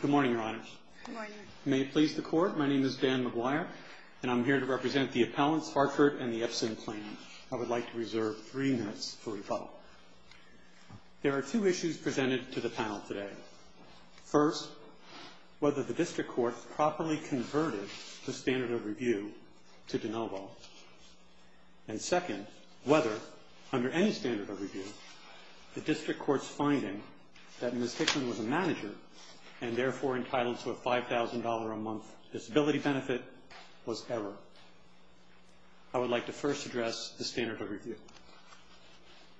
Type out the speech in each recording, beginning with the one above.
Good morning, Your Honors. May it please the Court, my name is Dan McGuire, and I'm here to represent the Appellants, Hartford, and the Epson Plain. I would like to reserve three minutes for rebuttal. There are two issues presented to the panel today. First, whether the District Court properly converted the standard of review to de novo. And second, whether, under any standard of review, the District Court's finding that Ms. Hicklin was a manager and therefore entitled to a $5,000 a month disability benefit was error. I would like to first address the standard of review.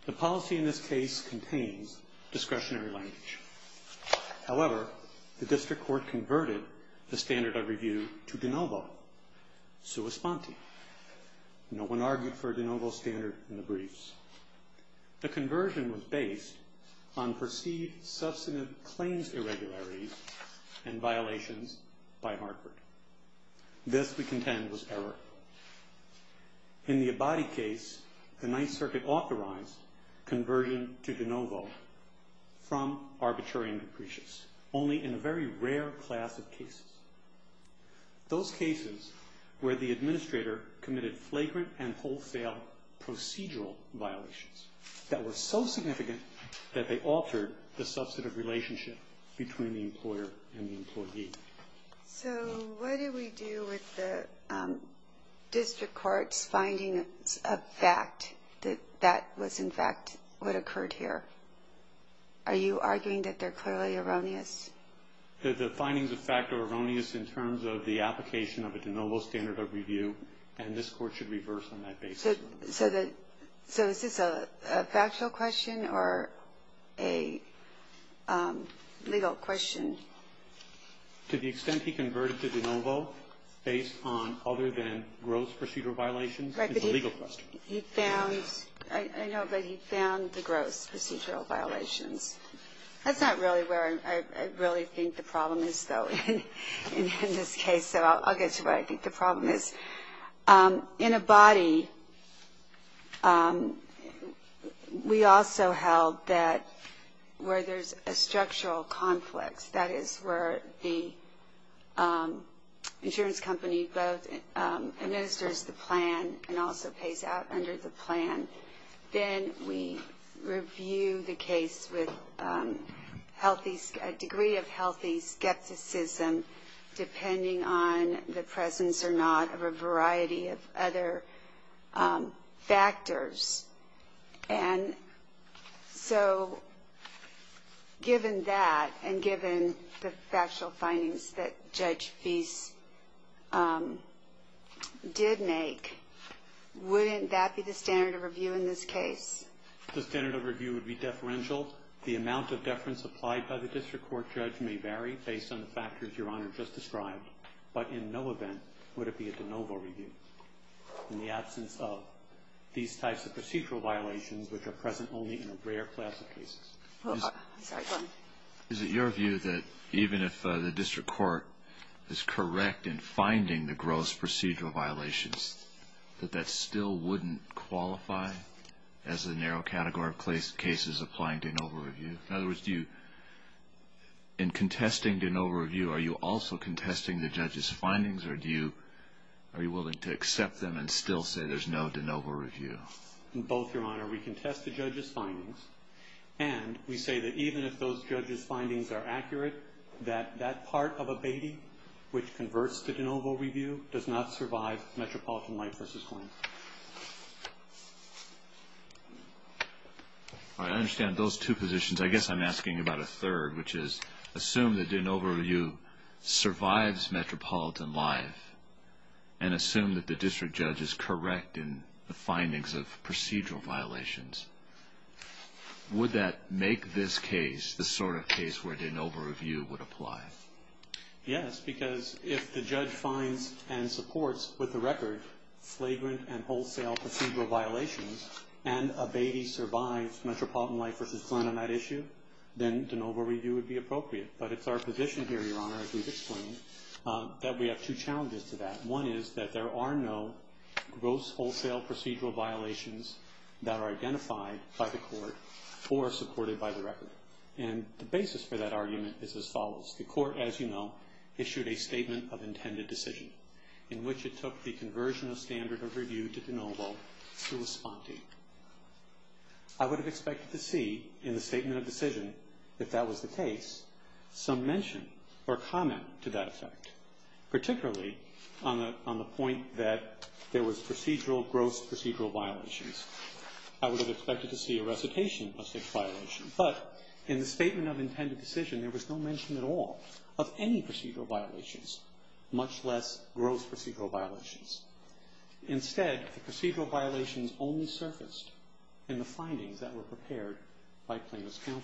The policy in this case contains discretionary language. However, the District Court converted the standard of review to de novo, sua sponte. No one argued for a de novo standard in the briefs. The conversion was based on perceived substantive claims irregularities and violations by Hartford. This, we contend, was error. In the Abadi case, the Ninth Circuit authorized conversion to de novo from arbitrary and capricious, only in a very rare class of cases. Those cases where the administrator committed flagrant and wholesale procedural violations that were so significant that they altered the substantive relationship between the employer and the employee. So what do we do with the District Court's findings of fact that that was, in fact, what occurred here? Are you arguing that they're clearly erroneous? The findings of fact are erroneous in terms of the application of a de novo standard of review, and this Court should reverse on that basis. So is this a factual question or a legal question? To the extent he converted to de novo based on other than gross procedural violations is a legal question. Right, but he found the gross procedural violations. That's not really where I really think the problem is, though, in this case, so I'll get to where I think the problem is. In Abadi, we also held that where there's a structural conflict, that is, where the insurance company both administers the plan and also pays out under the plan, then we review the case with a degree of healthy skepticism, depending on the presence or not of a variety of other factors. And so given that and given the factual findings that Judge Fease did make, wouldn't that be the standard of review in this case? The standard of review would be deferential. The amount of deference applied by the District Court judge may vary based on the factors Your Honor just described, but in no event would it be a de novo review in the absence of these types of procedural violations which are present only in a rare class of cases. Is it your view that even if the District Court is correct in finding the gross procedural violations, that that still wouldn't qualify as a narrow category of cases applying de novo review? In other words, in contesting de novo review, are you also contesting the judge's findings, or are you willing to accept them and still say there's no de novo review? In both, Your Honor. We contest the judge's findings, and we say that even if those judge's findings are accurate, that that part of Abadi which converts to de novo review does not survive Metropolitan Life v. Coins. I understand those two positions. I guess I'm asking about a third, which is assume that de novo review survives Metropolitan Life and assume that the district judge is correct in the findings of procedural violations. Would that make this case the sort of case where de novo review would apply? Yes, because if the judge finds and supports with the record flagrant and wholesale procedural violations and Abadi survives Metropolitan Life v. Coins on that issue, then de novo review would be appropriate. But it's our position here, Your Honor, as we've explained, that we have two challenges to that. One is that there are no gross wholesale procedural violations that are identified by the court or supported by the record. And the basis for that argument is as follows. The court, as you know, issued a statement of intended decision in which it took the conversion of standard of review to de novo to respond to. I would have expected to see in the statement of decision, if that was the case, some mention or comment to that effect, particularly on the point that there was procedural gross procedural violations. I would have expected to see a recitation of such violation. But in the statement of intended decision, there was no mention at all of any procedural violations, much less gross procedural violations. Instead, the procedural violations only surfaced in the findings that were prepared by plaintiff's counsel.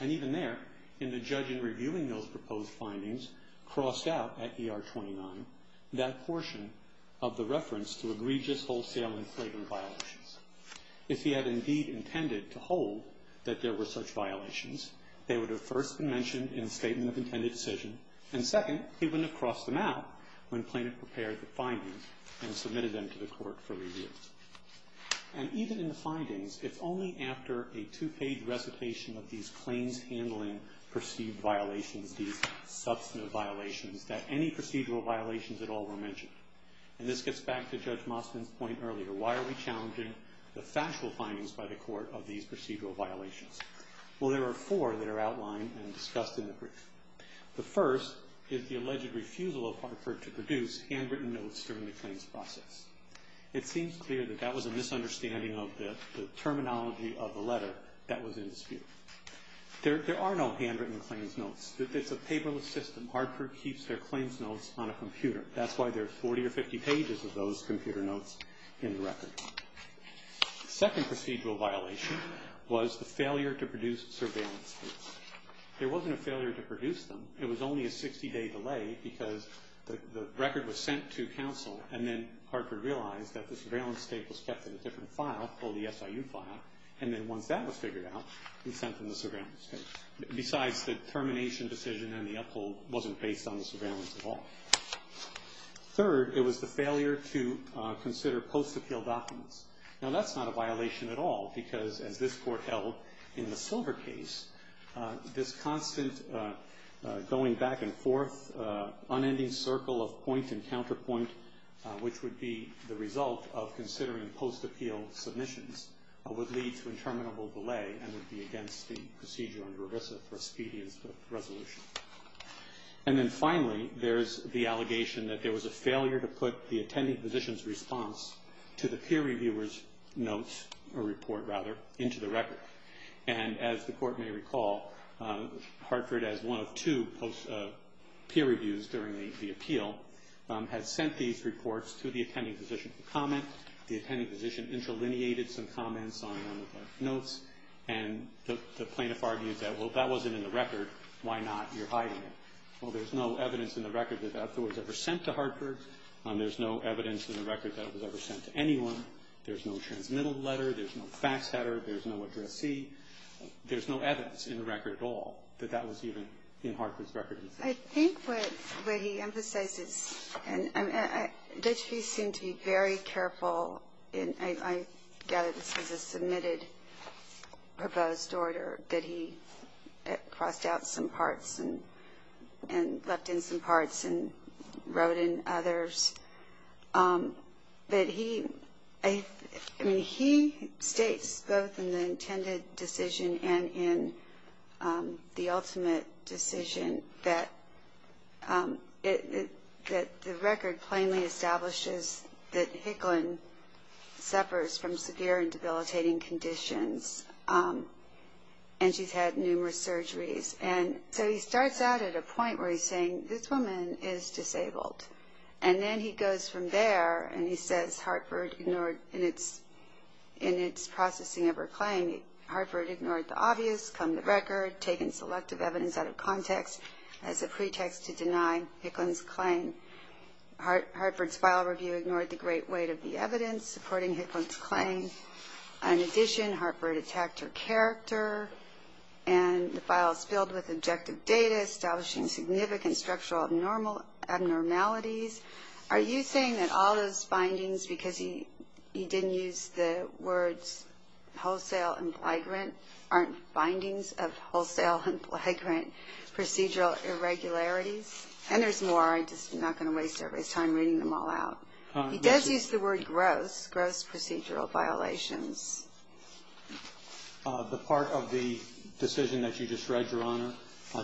And even there, in the judge in reviewing those proposed findings crossed out at ER 29 that portion of the reference to egregious wholesale and flagrant violations. If he had indeed intended to hold that there were such violations, they would have first been mentioned in the statement of intended decision, and second, he wouldn't have crossed them out when plaintiff prepared the findings and submitted them to the court for review. And even in the findings, it's only after a two-page recitation of these claims handling perceived violations, these substantive violations, that any procedural violations at all were mentioned. And this gets back to Judge Mostyn's point earlier. Why are we challenging the factual findings by the court of these procedural violations? Well, there are four that are outlined and discussed in the brief. The first is the alleged refusal of Hartford to produce handwritten notes during the claims process. It seems clear that that was a misunderstanding of the terminology of the letter that was in dispute. There are no handwritten claims notes. It's a paperless system. Hartford keeps their claims notes on a computer. That's why there are 40 or 50 pages of those computer notes in the record. The second procedural violation was the failure to produce surveillance tapes. There wasn't a failure to produce them. It was only a 60-day delay because the record was sent to counsel, and then Hartford realized that the surveillance tape was kept in a different file called the SIU file, and then once that was figured out, it was sent to the surveillance tape. Besides, the termination decision and the uphold wasn't based on the surveillance at all. Third, it was the failure to consider post-appeal documents. Now, that's not a violation at all because, as this court held in the Silver case, this constant going back and forth, unending circle of point and counterpoint, which would be the result of considering post-appeal submissions, would lead to interminable delay and would be against the procedure under ERISA for expedience of resolution. And then finally, there's the allegation that there was a failure to put the attending physician's response to the peer reviewer's notes or report, rather, into the record. And as the court may recall, Hartford, as one of two peer reviews during the appeal, has sent these reports to the attending physician for comment. The attending physician interlineated some comments on one of the notes, and the plaintiff argued that, well, if that wasn't in the record, why not? You're hiding it. Well, there's no evidence in the record that that was ever sent to Hartford. There's no evidence in the record that it was ever sent to anyone. There's no transmittal letter. There's no fax header. There's no addressee. There's no evidence in the record at all that that was even in Hartford's record. I think what he emphasizes, and Dutchby seemed to be very careful, and I gather this was a submitted proposed order, that he crossed out some parts and left in some parts and wrote in others. But he, I mean, he states both in the intended decision and in the ultimate decision that the record plainly establishes that Hicklin suffers from severe and debilitating conditions, and she's had numerous surgeries. And so he starts out at a point where he's saying, this woman is disabled. And then he goes from there, and he says Hartford ignored, in its processing of her claim, Hartford ignored the obvious, come the record, taken selective evidence out of context as a pretext to deny Hicklin's claim. Hartford's file review ignored the great weight of the evidence supporting Hicklin's claim. In addition, Hartford attacked her character, and the file is filled with objective data establishing significant structural abnormalities. Are you saying that all those findings, because he didn't use the words wholesale and flagrant, aren't findings of wholesale and flagrant procedural irregularities? And there's more. I'm just not going to waste everybody's time reading them all out. He does use the word gross, gross procedural violations. The part of the decision that you just read, Your Honor,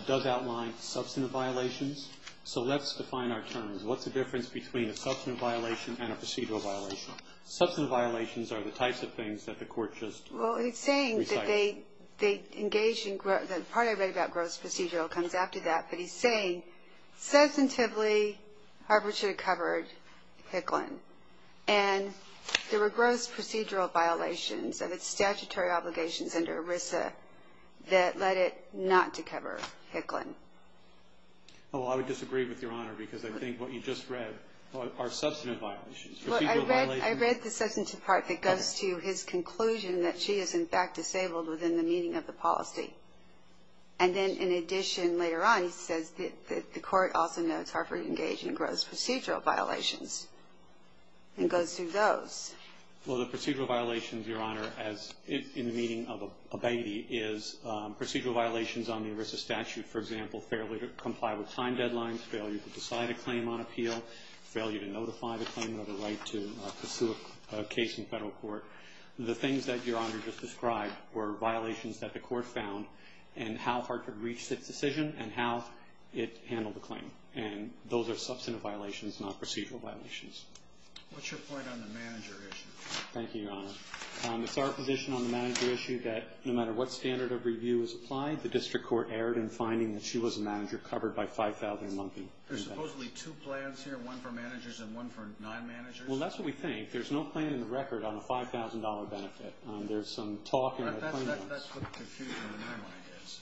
does outline substantive violations. So let's define our terms. What's the difference between a substantive violation and a procedural violation? Substantive violations are the types of things that the Court just recited. Well, he's saying that they engage in gross. The part I read about gross procedural comes after that. But he's saying substantively, Hartford should have covered Hicklin. And there were gross procedural violations of its statutory obligations under ERISA that led it not to cover Hicklin. Well, I would disagree with Your Honor because I think what you just read are substantive violations. Well, I read the substantive part that goes to his conclusion that she is, in fact, disabled within the meaning of the policy. And then, in addition, later on he says that the Court also notes Hartford engaged in gross procedural violations and goes through those. Well, the procedural violations, Your Honor, as in the meaning of a baby, is procedural violations on the ERISA statute, for example, failure to comply with time deadlines, failure to decide a claim on appeal, failure to notify the claimant of a right to pursue a case in federal court. The things that Your Honor just described were violations that the Court found and how Hartford reached its decision and how it handled the claim. And those are substantive violations, not procedural violations. What's your point on the manager issue? Thank you, Your Honor. It's our position on the manager issue that no matter what standard of review is applied, the district court erred in finding that she was a manager covered by 5,000 monkey. There's supposedly two plans here, one for managers and one for non-managers? Well, that's what we think. There's no plan in the record on a $5,000 benefit. There's some talk in the claimant's. That's what the confusion in my mind is.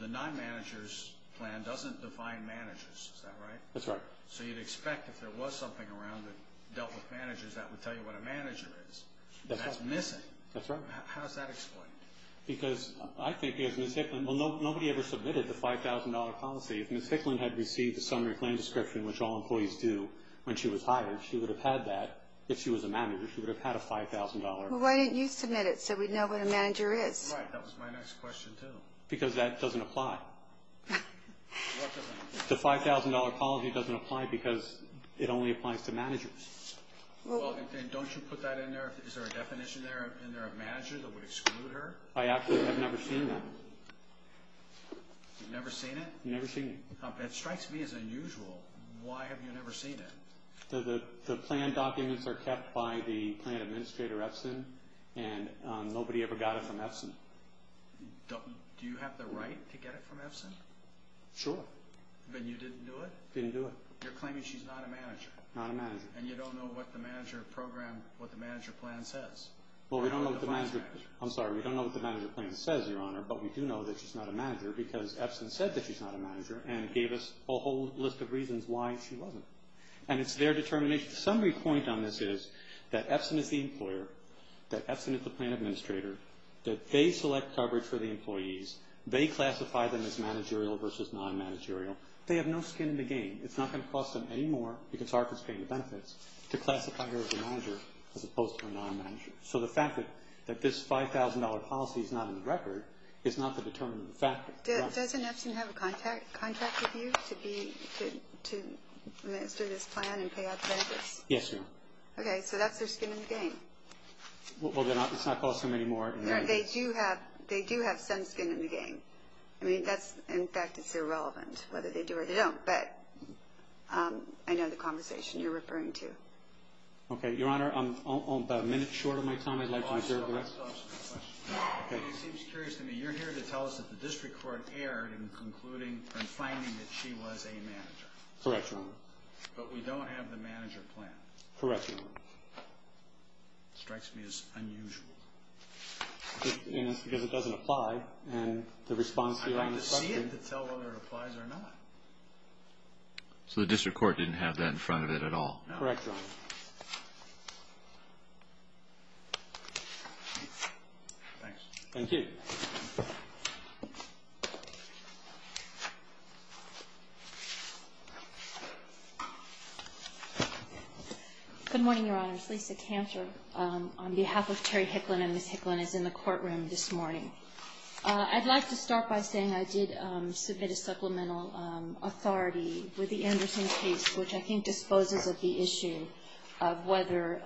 The non-managers plan doesn't define managers. Is that right? That's right. So you'd expect if there was something around that dealt with managers, that would tell you what a manager is. That's right. That's missing. That's right. How is that explained? Because I think if Ms. Hicklin, well, nobody ever submitted the $5,000 policy. If Ms. Hicklin had received the summary plan description, which all employees do, when she was hired, she would have had that. If she was a manager, she would have had a $5,000. Well, why didn't you submit it so we'd know what a manager is? Right, that was my next question too. Because that doesn't apply. What doesn't apply? The $5,000 policy doesn't apply because it only applies to managers. Well, then don't you put that in there? Is there a definition there of a manager that would exclude her? I actually have never seen that. You've never seen it? Never seen it. That strikes me as unusual. Why have you never seen it? The plan documents are kept by the plan administrator, Epson, and nobody ever got it from Epson. Do you have the right to get it from Epson? Sure. But you didn't do it? Didn't do it. You're claiming she's not a manager. Not a manager. And you don't know what the manager plan says. I'm sorry, we don't know what the manager plan says, Your Honor, but we do know that she's not a manager because Epson said that she's not a manager and gave us a whole list of reasons why she wasn't. And it's their determination. The summary point on this is that Epson is the employer, that Epson is the plan administrator, that they select coverage for the employees, they classify them as managerial versus non-managerial. They have no skin in the game. It's not going to cost them any more because ARPA is paying the benefits to classify her as a manager as opposed to a non-manager. So the fact that this $5,000 policy is not in the record is not the determination of the fact. Does Epson have a contract with you to administer this plan and pay out the benefits? Yes, Your Honor. Okay, so that's their skin in the game. Well, it's not going to cost them any more. They do have some skin in the game. I mean, in fact, it's irrelevant whether they do or they don't, but I know the conversation you're referring to. Okay, Your Honor, I'm about a minute short of my time. I'd like to reserve the rest. It seems curious to me. You're here to tell us that the district court erred in concluding and finding that she was a manager. Correct, Your Honor. But we don't have the manager plan. Correct, Your Honor. It strikes me as unusual. Because it doesn't apply, and the response here on this record. I'd like to see it to tell whether it applies or not. So the district court didn't have that in front of it at all? No. Correct, Your Honor. Thanks. Thank you. Good morning, Your Honors. Lisa Cantor on behalf of Terry Hicklin and Ms. Hicklin is in the courtroom this morning. I'd like to start by saying I did submit a supplemental authority with the Anderson case, which I think disposes of the issue of whether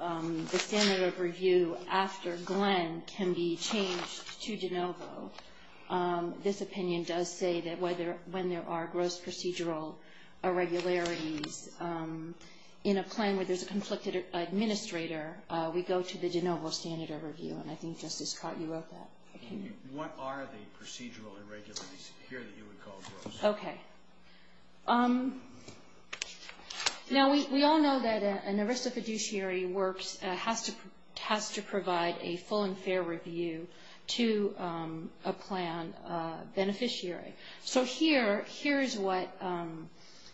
the standard of review after Glenn can be changed to DeNovo. This opinion does say that when there are gross procedural irregularities in a plan where there's a conflicted administrator, we go to the DeNovo standard of review. And I think, Justice Cott, you wrote that. What are the procedural irregularities here that you would call gross? Okay. Now, we all know that an arresta fiduciary has to provide a full and fair review to a plan beneficiary. So here is what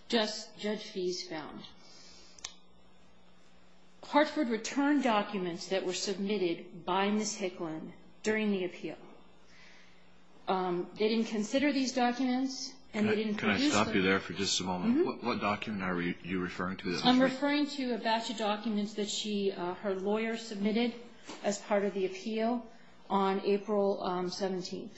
Judge Fies found. Hartford returned documents that were submitted by Ms. Hicklin during the appeal. They didn't consider these documents. Can I stop you there for just a moment? What document are you referring to? I'm referring to a batch of documents that her lawyer submitted as part of the appeal on April 17th.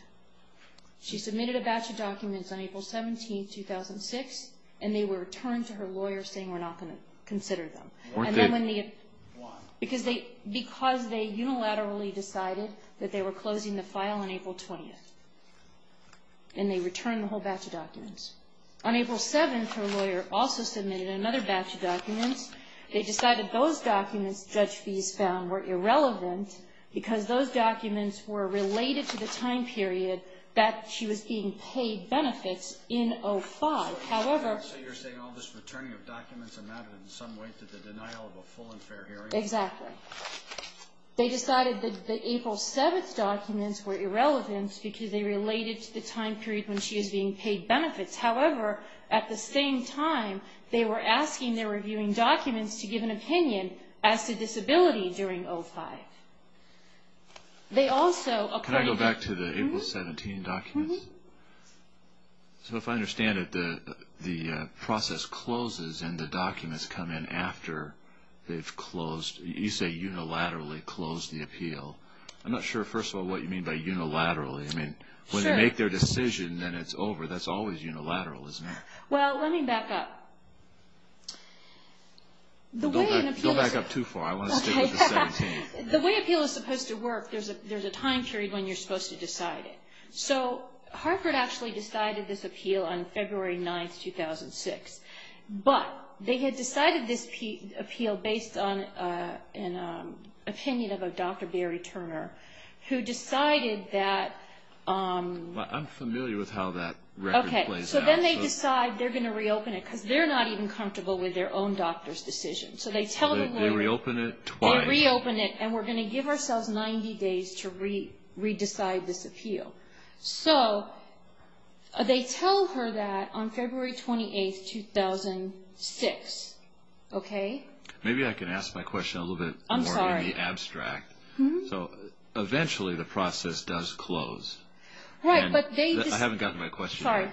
She submitted a batch of documents on April 17th, 2006, and they were returned to her lawyer saying we're not going to consider them. Why? Because they unilaterally decided that they were closing the file on April 20th, and they returned the whole batch of documents. On April 7th, her lawyer also submitted another batch of documents. They decided those documents, Judge Fies found, were irrelevant because those documents were related to the time period that she was being paid benefits in 05. So you're saying all this returning of documents amounted in some way to the denial of a full and fair hearing? Exactly. They decided that the April 7th documents were irrelevant because they related to the time period when she was being paid benefits. However, at the same time, they were asking their reviewing documents to give an opinion as to disability during 05. Can I go back to the April 17th documents? So if I understand it, the process closes and the documents come in after they've closed. You say unilaterally closed the appeal. I'm not sure, first of all, what you mean by unilaterally. I mean, when they make their decision, then it's over. That's always unilateral, isn't it? Well, let me back up. Don't back up too far. I want to stick with the 17th. The way an appeal is supposed to work, there's a time period when you're supposed to decide it. So Harvard actually decided this appeal on February 9th, 2006. But they had decided this appeal based on an opinion of a Dr. Barry Turner, who decided that... I'm familiar with how that record plays out. So then they decide they're going to reopen it, because they're not even comfortable with their own doctor's decision. They reopen it twice. They reopen it, and we're going to give ourselves 90 days to re-decide this appeal. So they tell her that on February 28th, 2006. Maybe I can ask my question a little bit more in the abstract. I'm sorry. So eventually the process does close. Right, but they just... I haven't gotten to my question yet. Sorry.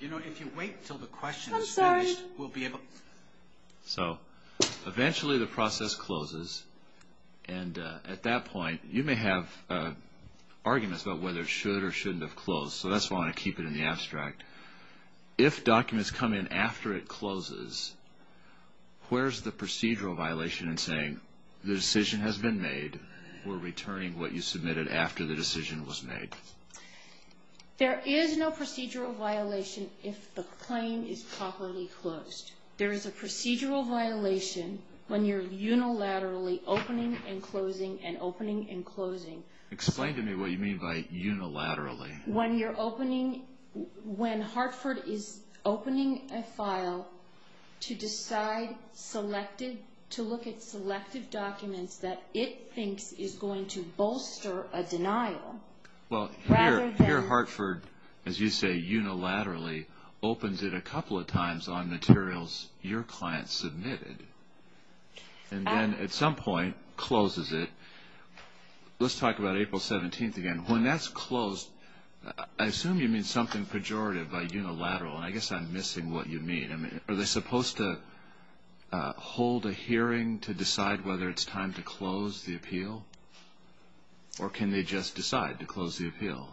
You know, if you wait until the question is finished, we'll be able... I'm sorry. So eventually the process closes. And at that point, you may have arguments about whether it should or shouldn't have closed. So that's why I want to keep it in the abstract. If documents come in after it closes, where's the procedural violation in saying, the decision has been made, we're returning what you submitted after the decision was made? There is no procedural violation if the claim is properly closed. There is a procedural violation when you're unilaterally opening and closing and opening and closing. Explain to me what you mean by unilaterally. When you're opening, when Hartford is opening a file to decide, to look at selective documents that it thinks is going to bolster a denial, rather than... Well, here Hartford, as you say, unilaterally opens it a couple of times on materials your client submitted. And then at some point closes it. Let's talk about April 17th again. When that's closed, I assume you mean something pejorative by unilateral. And I guess I'm missing what you mean. Are they supposed to hold a hearing to decide whether it's time to close the appeal? Or can they just decide to close the appeal?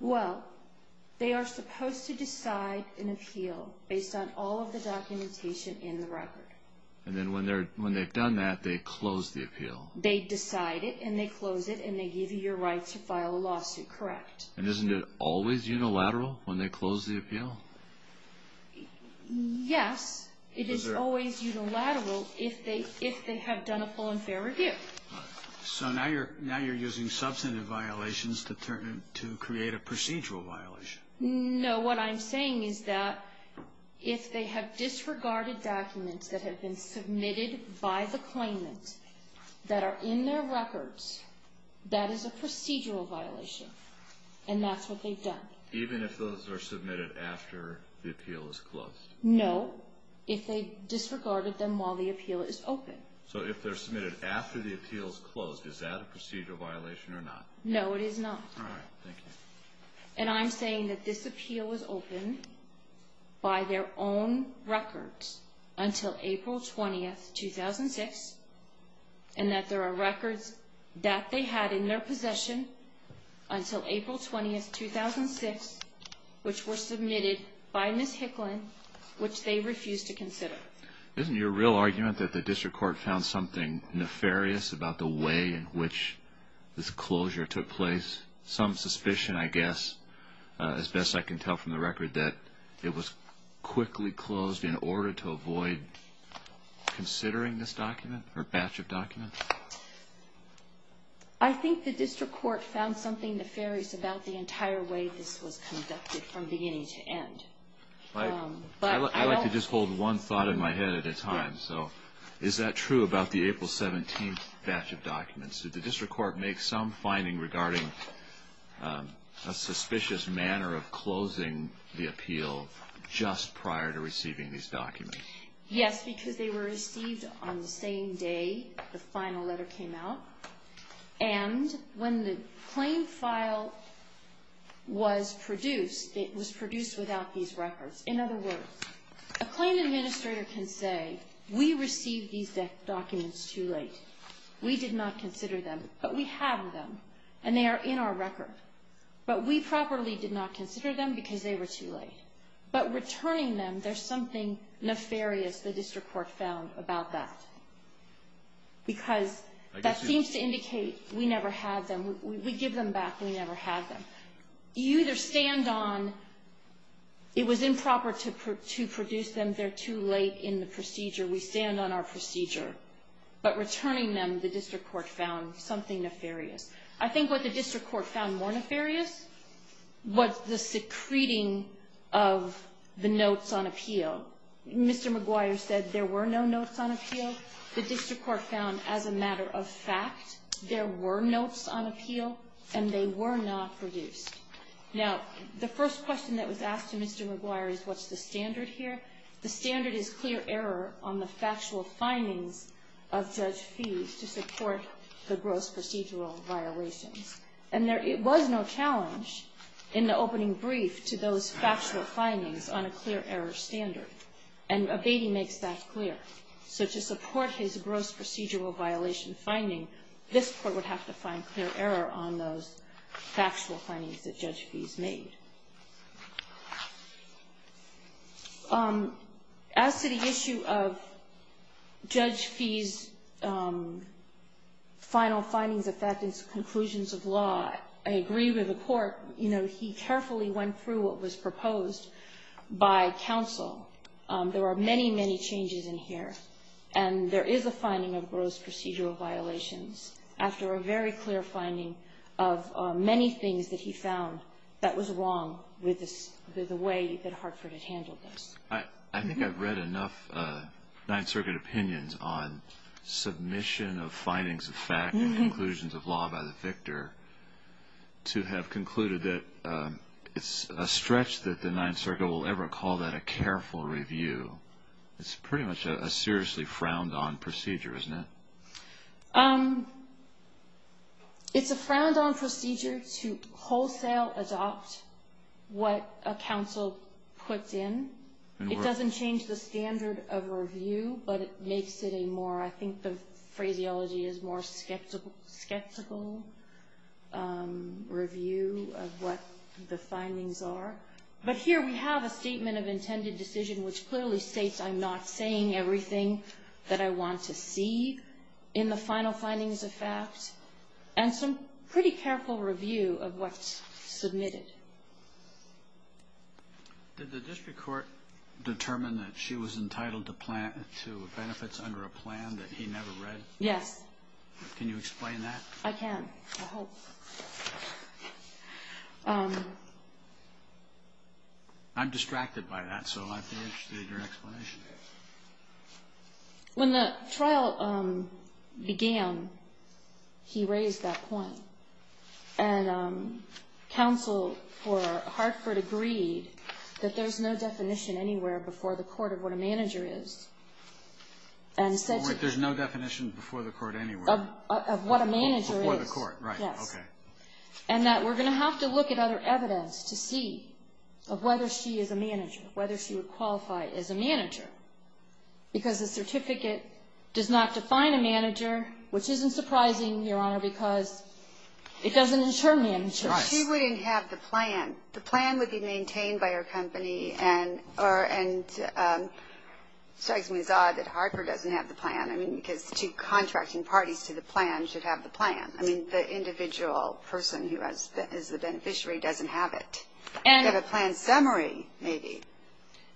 Well, they are supposed to decide an appeal based on all of the documentation in the record. And then when they've done that, they close the appeal. They decide it, and they close it, and they give you your right to file a lawsuit, correct? And isn't it always unilateral when they close the appeal? Yes, it is always unilateral if they have done a full and fair review. So now you're using substantive violations to create a procedural violation. No, what I'm saying is that if they have disregarded documents that have been submitted by the claimant that are in their records, that is a procedural violation. And that's what they've done. Even if those are submitted after the appeal is closed? No, if they disregarded them while the appeal is open. So if they're submitted after the appeal is closed, is that a procedural violation or not? All right. Thank you. And I'm saying that this appeal was open by their own records until April 20, 2006, and that there are records that they had in their possession until April 20, 2006, which were submitted by Ms. Hicklin, which they refused to consider. Isn't your real argument that the district court found something nefarious about the way in which this closure took place? Is there at least some suspicion, I guess, as best I can tell from the record, that it was quickly closed in order to avoid considering this document or batch of documents? I think the district court found something nefarious about the entire way this was conducted from beginning to end. I like to just hold one thought in my head at a time. So is that true about the April 17th batch of documents? Did the district court make some finding regarding a suspicious manner of closing the appeal just prior to receiving these documents? Yes, because they were received on the same day the final letter came out. And when the claim file was produced, it was produced without these records. In other words, a claim administrator can say, we received these documents too late. We did not consider them. But we have them, and they are in our record. But we properly did not consider them because they were too late. But returning them, there's something nefarious the district court found about that, because that seems to indicate we never had them. We give them back. We never had them. You either stand on it was improper to produce them, they're too late in the procedure. We stand on our procedure. But returning them, the district court found something nefarious. I think what the district court found more nefarious was the secreting of the notes on appeal. Mr. McGuire said there were no notes on appeal. The district court found as a matter of fact there were notes on appeal, and they were not produced. Now, the first question that was asked to Mr. McGuire is what's the standard here? The standard is clear error on the factual findings of Judge Feese to support the gross procedural violations. And there was no challenge in the opening brief to those factual findings on a clear error standard. And Abatey makes that clear. So to support his gross procedural violation finding, this court would have to find clear error on those factual findings that Judge Feese made. As to the issue of Judge Feese's final findings affecting conclusions of law, I agree with the court. You know, he carefully went through what was proposed by counsel. There were many, many changes in here. And there is a finding of gross procedural violations after a very clear finding of many things that he found that was wrong with the way that Hartford had handled this. I think I've read enough Ninth Circuit opinions on submission of findings of fact and conclusions of law by the victor to have concluded that it's a stretch that the Ninth Circuit will ever call that a careful review. It's pretty much a seriously frowned-on procedure, isn't it? It's a frowned-on procedure to wholesale adopt what a counsel puts in. It doesn't change the standard of review, but it makes it a more, I think the phraseology is more skeptical review of what the findings are. But here we have a statement of intended decision, which clearly states I'm not saying everything that I want to see in the final findings of fact, and some pretty careful review of what's submitted. Did the district court determine that she was entitled to benefits under a plan that he never read? Yes. Can you explain that? I can, I hope. I'm distracted by that, so I'd be interested in your explanation. When the trial began, he raised that point. And counsel for Hartford agreed that there's no definition anywhere before the court of what a manager is. There's no definition before the court anywhere? Of what a manager is. Before the court, right. Yes. Okay. And that we're going to have to look at other evidence to see of whether she is a manager, whether she would qualify as a manager, because the certificate does not define a manager, which isn't surprising, Your Honor, because it doesn't insure managers. Right. She wouldn't have the plan. The plan would be maintained by her company, and it strikes me as odd that Hartford doesn't have the plan. I mean, because two contracting parties to the plan should have the plan. I mean, the individual person who is the beneficiary doesn't have it. They have a plan summary, maybe.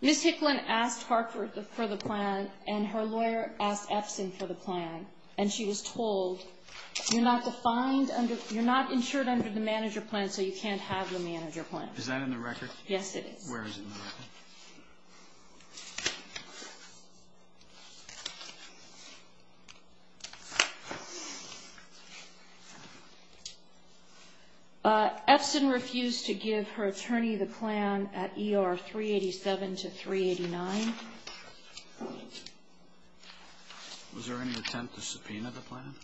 Ms. Hicklin asked Hartford for the plan, and her lawyer asked Epson for the plan, and she was told, you're not defined under the manager plan, so you can't have the manager plan. Is that in the record? Yes, it is. Where is it in the record? Epson refused to give her attorney the plan at ER 387 to 389. Was there any attempt to subpoena the plan?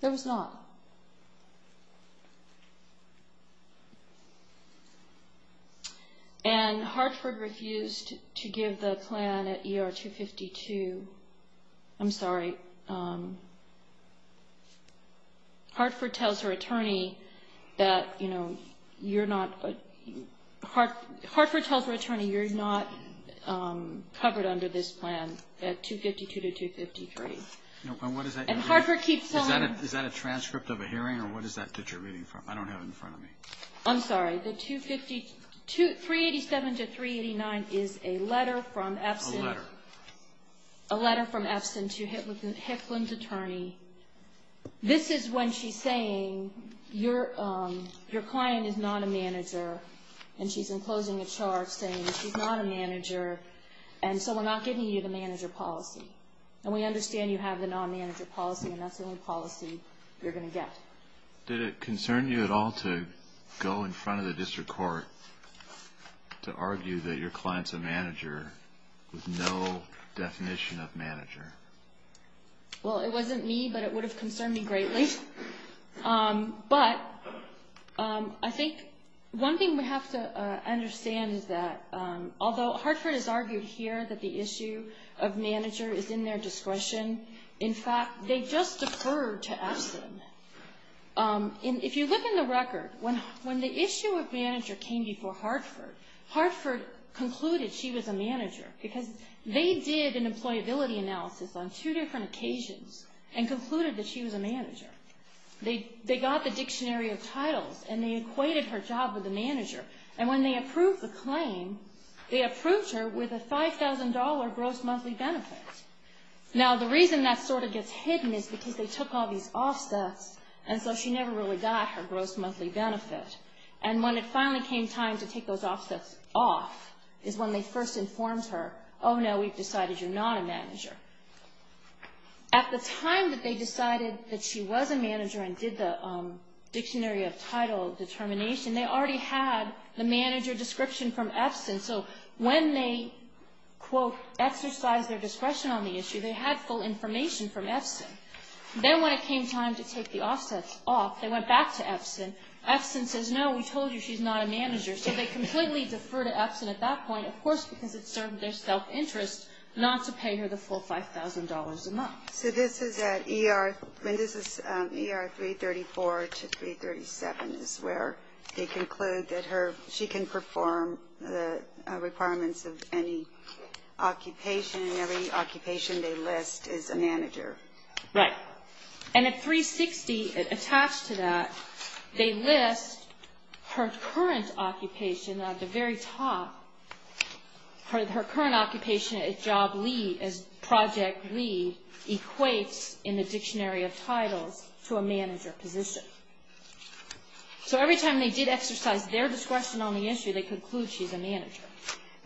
There was not. And Hartford refused to give the plan at ER 252. I'm sorry. Hartford tells her attorney that, you know, you're not covered under this plan at 252 to 253. And Hartford keeps telling her. Is that a transcript of a hearing, or what is that that you're reading from? I don't have it in front of me. I'm sorry. 387 to 389 is a letter from Epson to Hicklin's attorney. This is when she's saying, your client is not a manager, and she's enclosing a chart saying she's not a manager, and so we're not giving you the manager policy. And we understand you have the non-manager policy, and that's the only policy you're going to get. Did it concern you at all to go in front of the district court to argue that your client's a manager with no definition of manager? Well, it wasn't me, but it would have concerned me greatly. But I think one thing we have to understand is that although Hartford has argued here that the issue of manager is in their discretion, in fact, they just deferred to Epson. If you look in the record, when the issue of manager came before Hartford, Hartford concluded she was a manager, because they did an employability analysis on two different occasions and concluded that she was a manager. They got the dictionary of titles, and they equated her job with a manager. And when they approved the claim, they approved her with a $5,000 gross monthly benefit. Now, the reason that sort of gets hidden is because they took all these offsets, and so she never really got her gross monthly benefit. And when it finally came time to take those offsets off is when they first informed her, oh, no, we've decided you're not a manager. At the time that they decided that she was a manager and did the dictionary of title determination, they already had the manager description from Epson. So when they, quote, exercised their discretion on the issue, they had full information from Epson. Then when it came time to take the offsets off, they went back to Epson. Epson says, no, we told you she's not a manager. So they completely deferred to Epson at that point, of course, because it served their self-interest not to pay her the full $5,000 a month. So this is at ER 334 to 337 is where they conclude that she can perform the requirements of any occupation, and every occupation they list is a manager. Right. And at 360, attached to that, they list her current occupation at the very top, her current occupation at job lead as project lead equates in the dictionary of titles to a manager position. So every time they did exercise their discretion on the issue, they conclude she's a manager.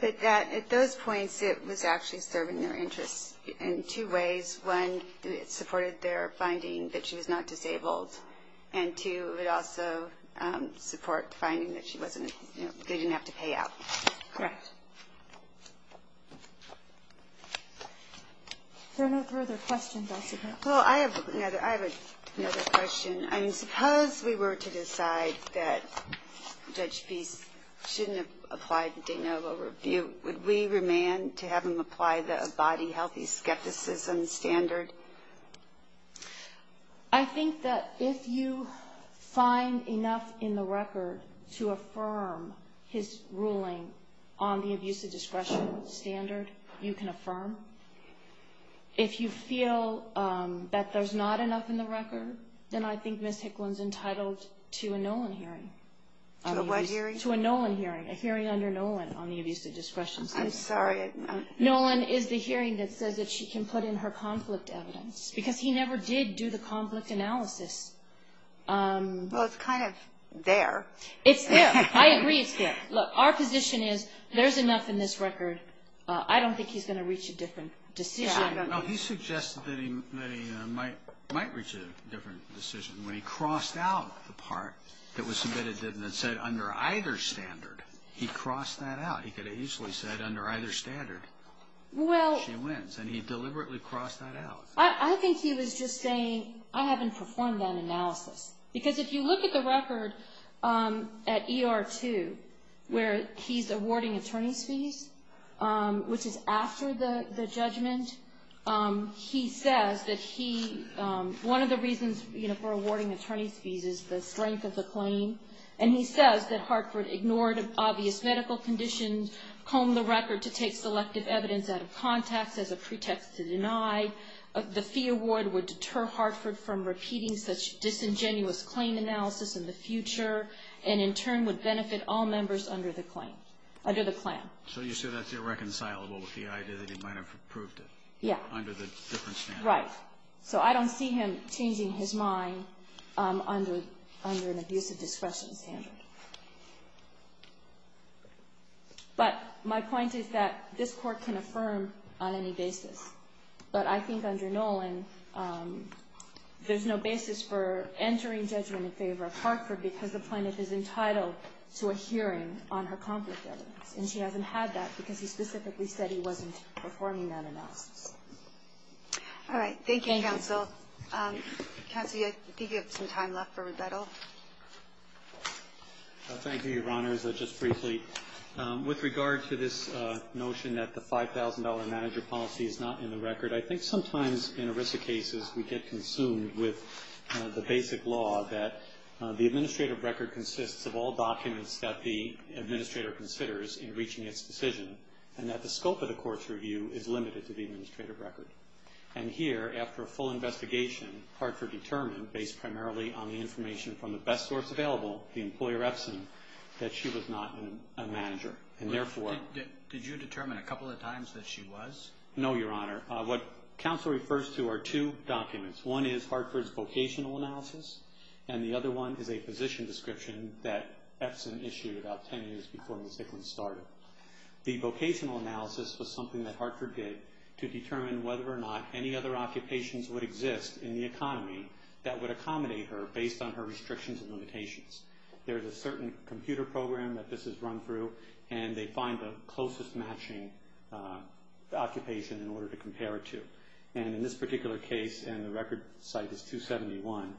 But at those points, it was actually serving their interests in two ways. One, it supported their finding that she was not disabled, and two, it also supported finding that she didn't have to pay out. Correct. There are no further questions, I suppose. Well, I have another question. I mean, suppose we were to decide that Judge Peace shouldn't have applied the de novo review, would we remand to have him apply the body healthy skepticism standard? I think that if you find enough in the record to affirm his ruling on the abuse of discretion standard, you can affirm. If you feel that there's not enough in the record, then I think Ms. Hicklin's entitled to a Nolan hearing. To a what hearing? To a Nolan hearing, a hearing under Nolan on the abuse of discretion standard. I'm sorry. Nolan is the hearing that says that she can put in her conflict evidence, because he never did do the conflict analysis. Well, it's kind of there. It's there. I agree it's there. Look, our position is there's enough in this record. I don't think he's going to reach a different decision. No, he suggested that he might reach a different decision. When he crossed out the part that was submitted that said under either standard, he crossed that out. He could have easily said under either standard, she wins, and he deliberately crossed that out. I think he was just saying, I haven't performed that analysis. Because if you look at the record at ER-2, where he's awarding attorney's fees, which is after the judgment, he says that one of the reasons for awarding attorney's fees is the strength of the claim, and he says that Hartford ignored obvious medical conditions, combed the record to take selective evidence out of context as a pretext to deny. The fee award would deter Hartford from repeating such disingenuous claim analysis in the future, and in turn would benefit all members under the claim, under the claim. So you say that's irreconcilable with the idea that he might have approved it. Yeah. Under the different standard. Right. So I don't see him changing his mind under an abusive discretion standard. But my point is that this Court can affirm on any basis. But I think under Nolan, there's no basis for entering judgment in favor of Hartford because the plaintiff is entitled to a hearing on her conflict evidence, and she hasn't had that because he specifically said he wasn't performing that analysis. All right. Thank you, counsel. Counsel, I think you have some time left for rebuttal. Thank you, Your Honors. Just briefly, with regard to this notion that the $5,000 manager policy is not in the record, I think sometimes in ERISA cases we get consumed with the basic law that the administrative record consists of all documents that the administrator considers in reaching its decision, and that the scope of the court's review is limited to the administrative record. And here, after a full investigation, Hartford determined, based primarily on the information from the best source available, the employer Epson, that she was not a manager. Did you determine a couple of times that she was? No, Your Honor. What counsel refers to are two documents. One is Hartford's vocational analysis, and the other one is a position description that Epson issued about ten years before Ms. Dickens started. The vocational analysis was something that Hartford did to determine whether or not any other occupations would exist in the economy that would accommodate her based on her restrictions and limitations. There's a certain computer program that this is run through, and they find the closest matching occupation in order to compare it to. And in this particular case, and the record site is 271,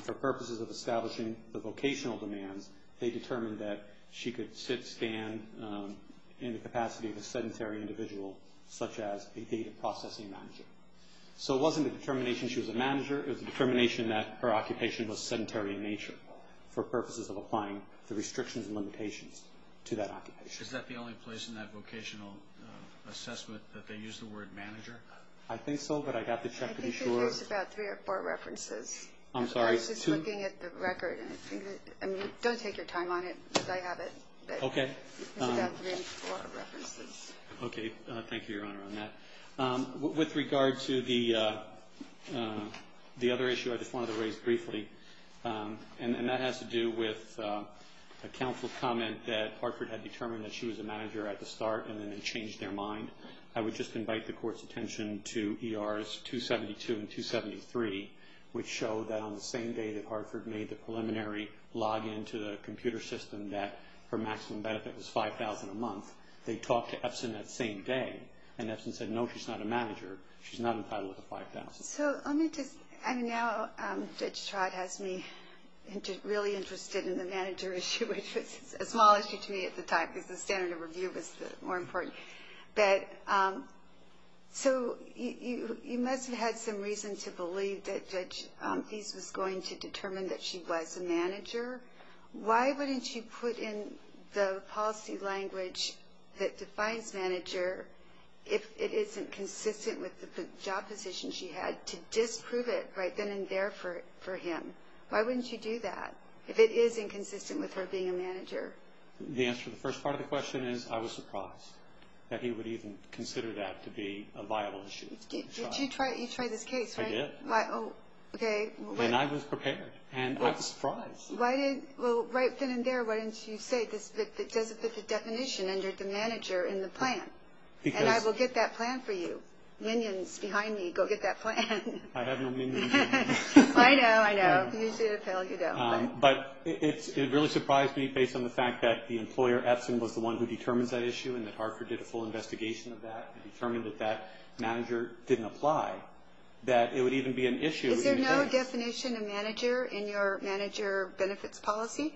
for purposes of establishing the vocational demands, they determined that she could sit, stand in the capacity of a sedentary individual, such as a data processing manager. So it wasn't a determination she was a manager. It was a determination that her occupation was sedentary in nature for purposes of applying the restrictions and limitations to that occupation. Is that the only place in that vocational assessment that they use the word manager? I think so, but I'd have to check to be sure. I think there's about three or four references. I'm sorry. I was just looking at the record. Don't take your time on it, but I have it. Okay. There's about three or four references. Okay. Thank you, Your Honor, on that. With regard to the other issue I just wanted to raise briefly, and that has to do with a counsel's comment that Hartford had determined that she was a manager at the start and then they changed their mind. I would just invite the Court's attention to ERs 272 and 273, which show that on the same day that Hartford made the preliminary login to the computer system that her maximum benefit was $5,000 a month, they talked to Epson that same day, and Epson said, No, she's not a manager. She's not entitled to $5,000. So let me just, I mean, now Judge Trott has me really interested in the manager issue, which was a small issue to me at the time because the standard of review was more important. But so you must have had some reason to believe that Judge Fies was going to determine that she was a manager. Why wouldn't you put in the policy language that defines manager if it isn't consistent with the job position she had to disprove it right then and there for him? Why wouldn't you do that if it is inconsistent with her being a manager? The answer to the first part of the question is I was surprised that he would even consider that to be a viable issue. Did you try this case? I did. Okay. And I was prepared, and I was surprised. Well, right then and there, why didn't you say it doesn't fit the definition under the manager in the plan? And I will get that plan for you. Minions behind me, go get that plan. I have no minions behind me. I know, I know. You should appeal. You don't. But it really surprised me based on the fact that the employer, Epson, was the one who determines that issue and that Hartford did a full investigation of that and determined that that manager didn't apply, that it would even be an issue. Is there no definition of manager in your manager benefits policy?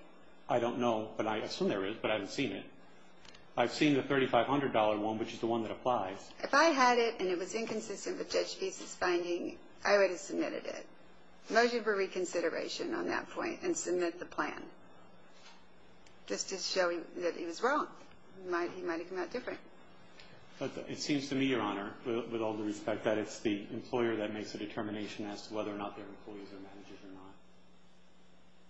I don't know, but I assume there is, but I haven't seen it. I've seen the $3,500 one, which is the one that applies. If I had it and it was inconsistent with Judge Beasley's finding, I would have submitted it. Mostly for reconsideration on that point and submit the plan. Just to show that he was wrong. He might have come out different. It seems to me, Your Honor, with all due respect, that it's the employer that makes the determination as to whether or not their employees are managers or not.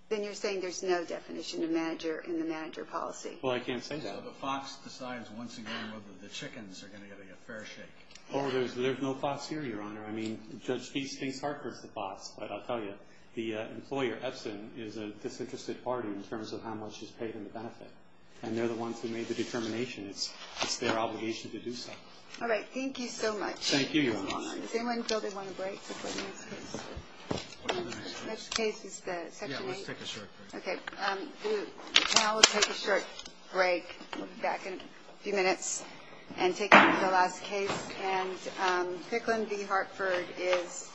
Then you're saying there's no definition of manager in the manager policy? Well, I can't say that. So the Fox decides once again whether the chickens are going to get a fair shake. Oh, there's no Fox here, Your Honor. I mean, Judge Beasley thinks Hartford's the Fox, but I'll tell you, the employer, Epson, is a disinterested party in terms of how much is paid in the benefit. And they're the ones who made the determination. It's their obligation to do so. All right. Thank you so much. Thank you, Your Honor. Does anyone feel they want a break before the next case? What's the next case? The next case is the Section 8. Yeah, let's take a short break. Okay. Now we'll take a short break. We'll be back in a few minutes and take the last case. And Kickland v. Hartford is submitted.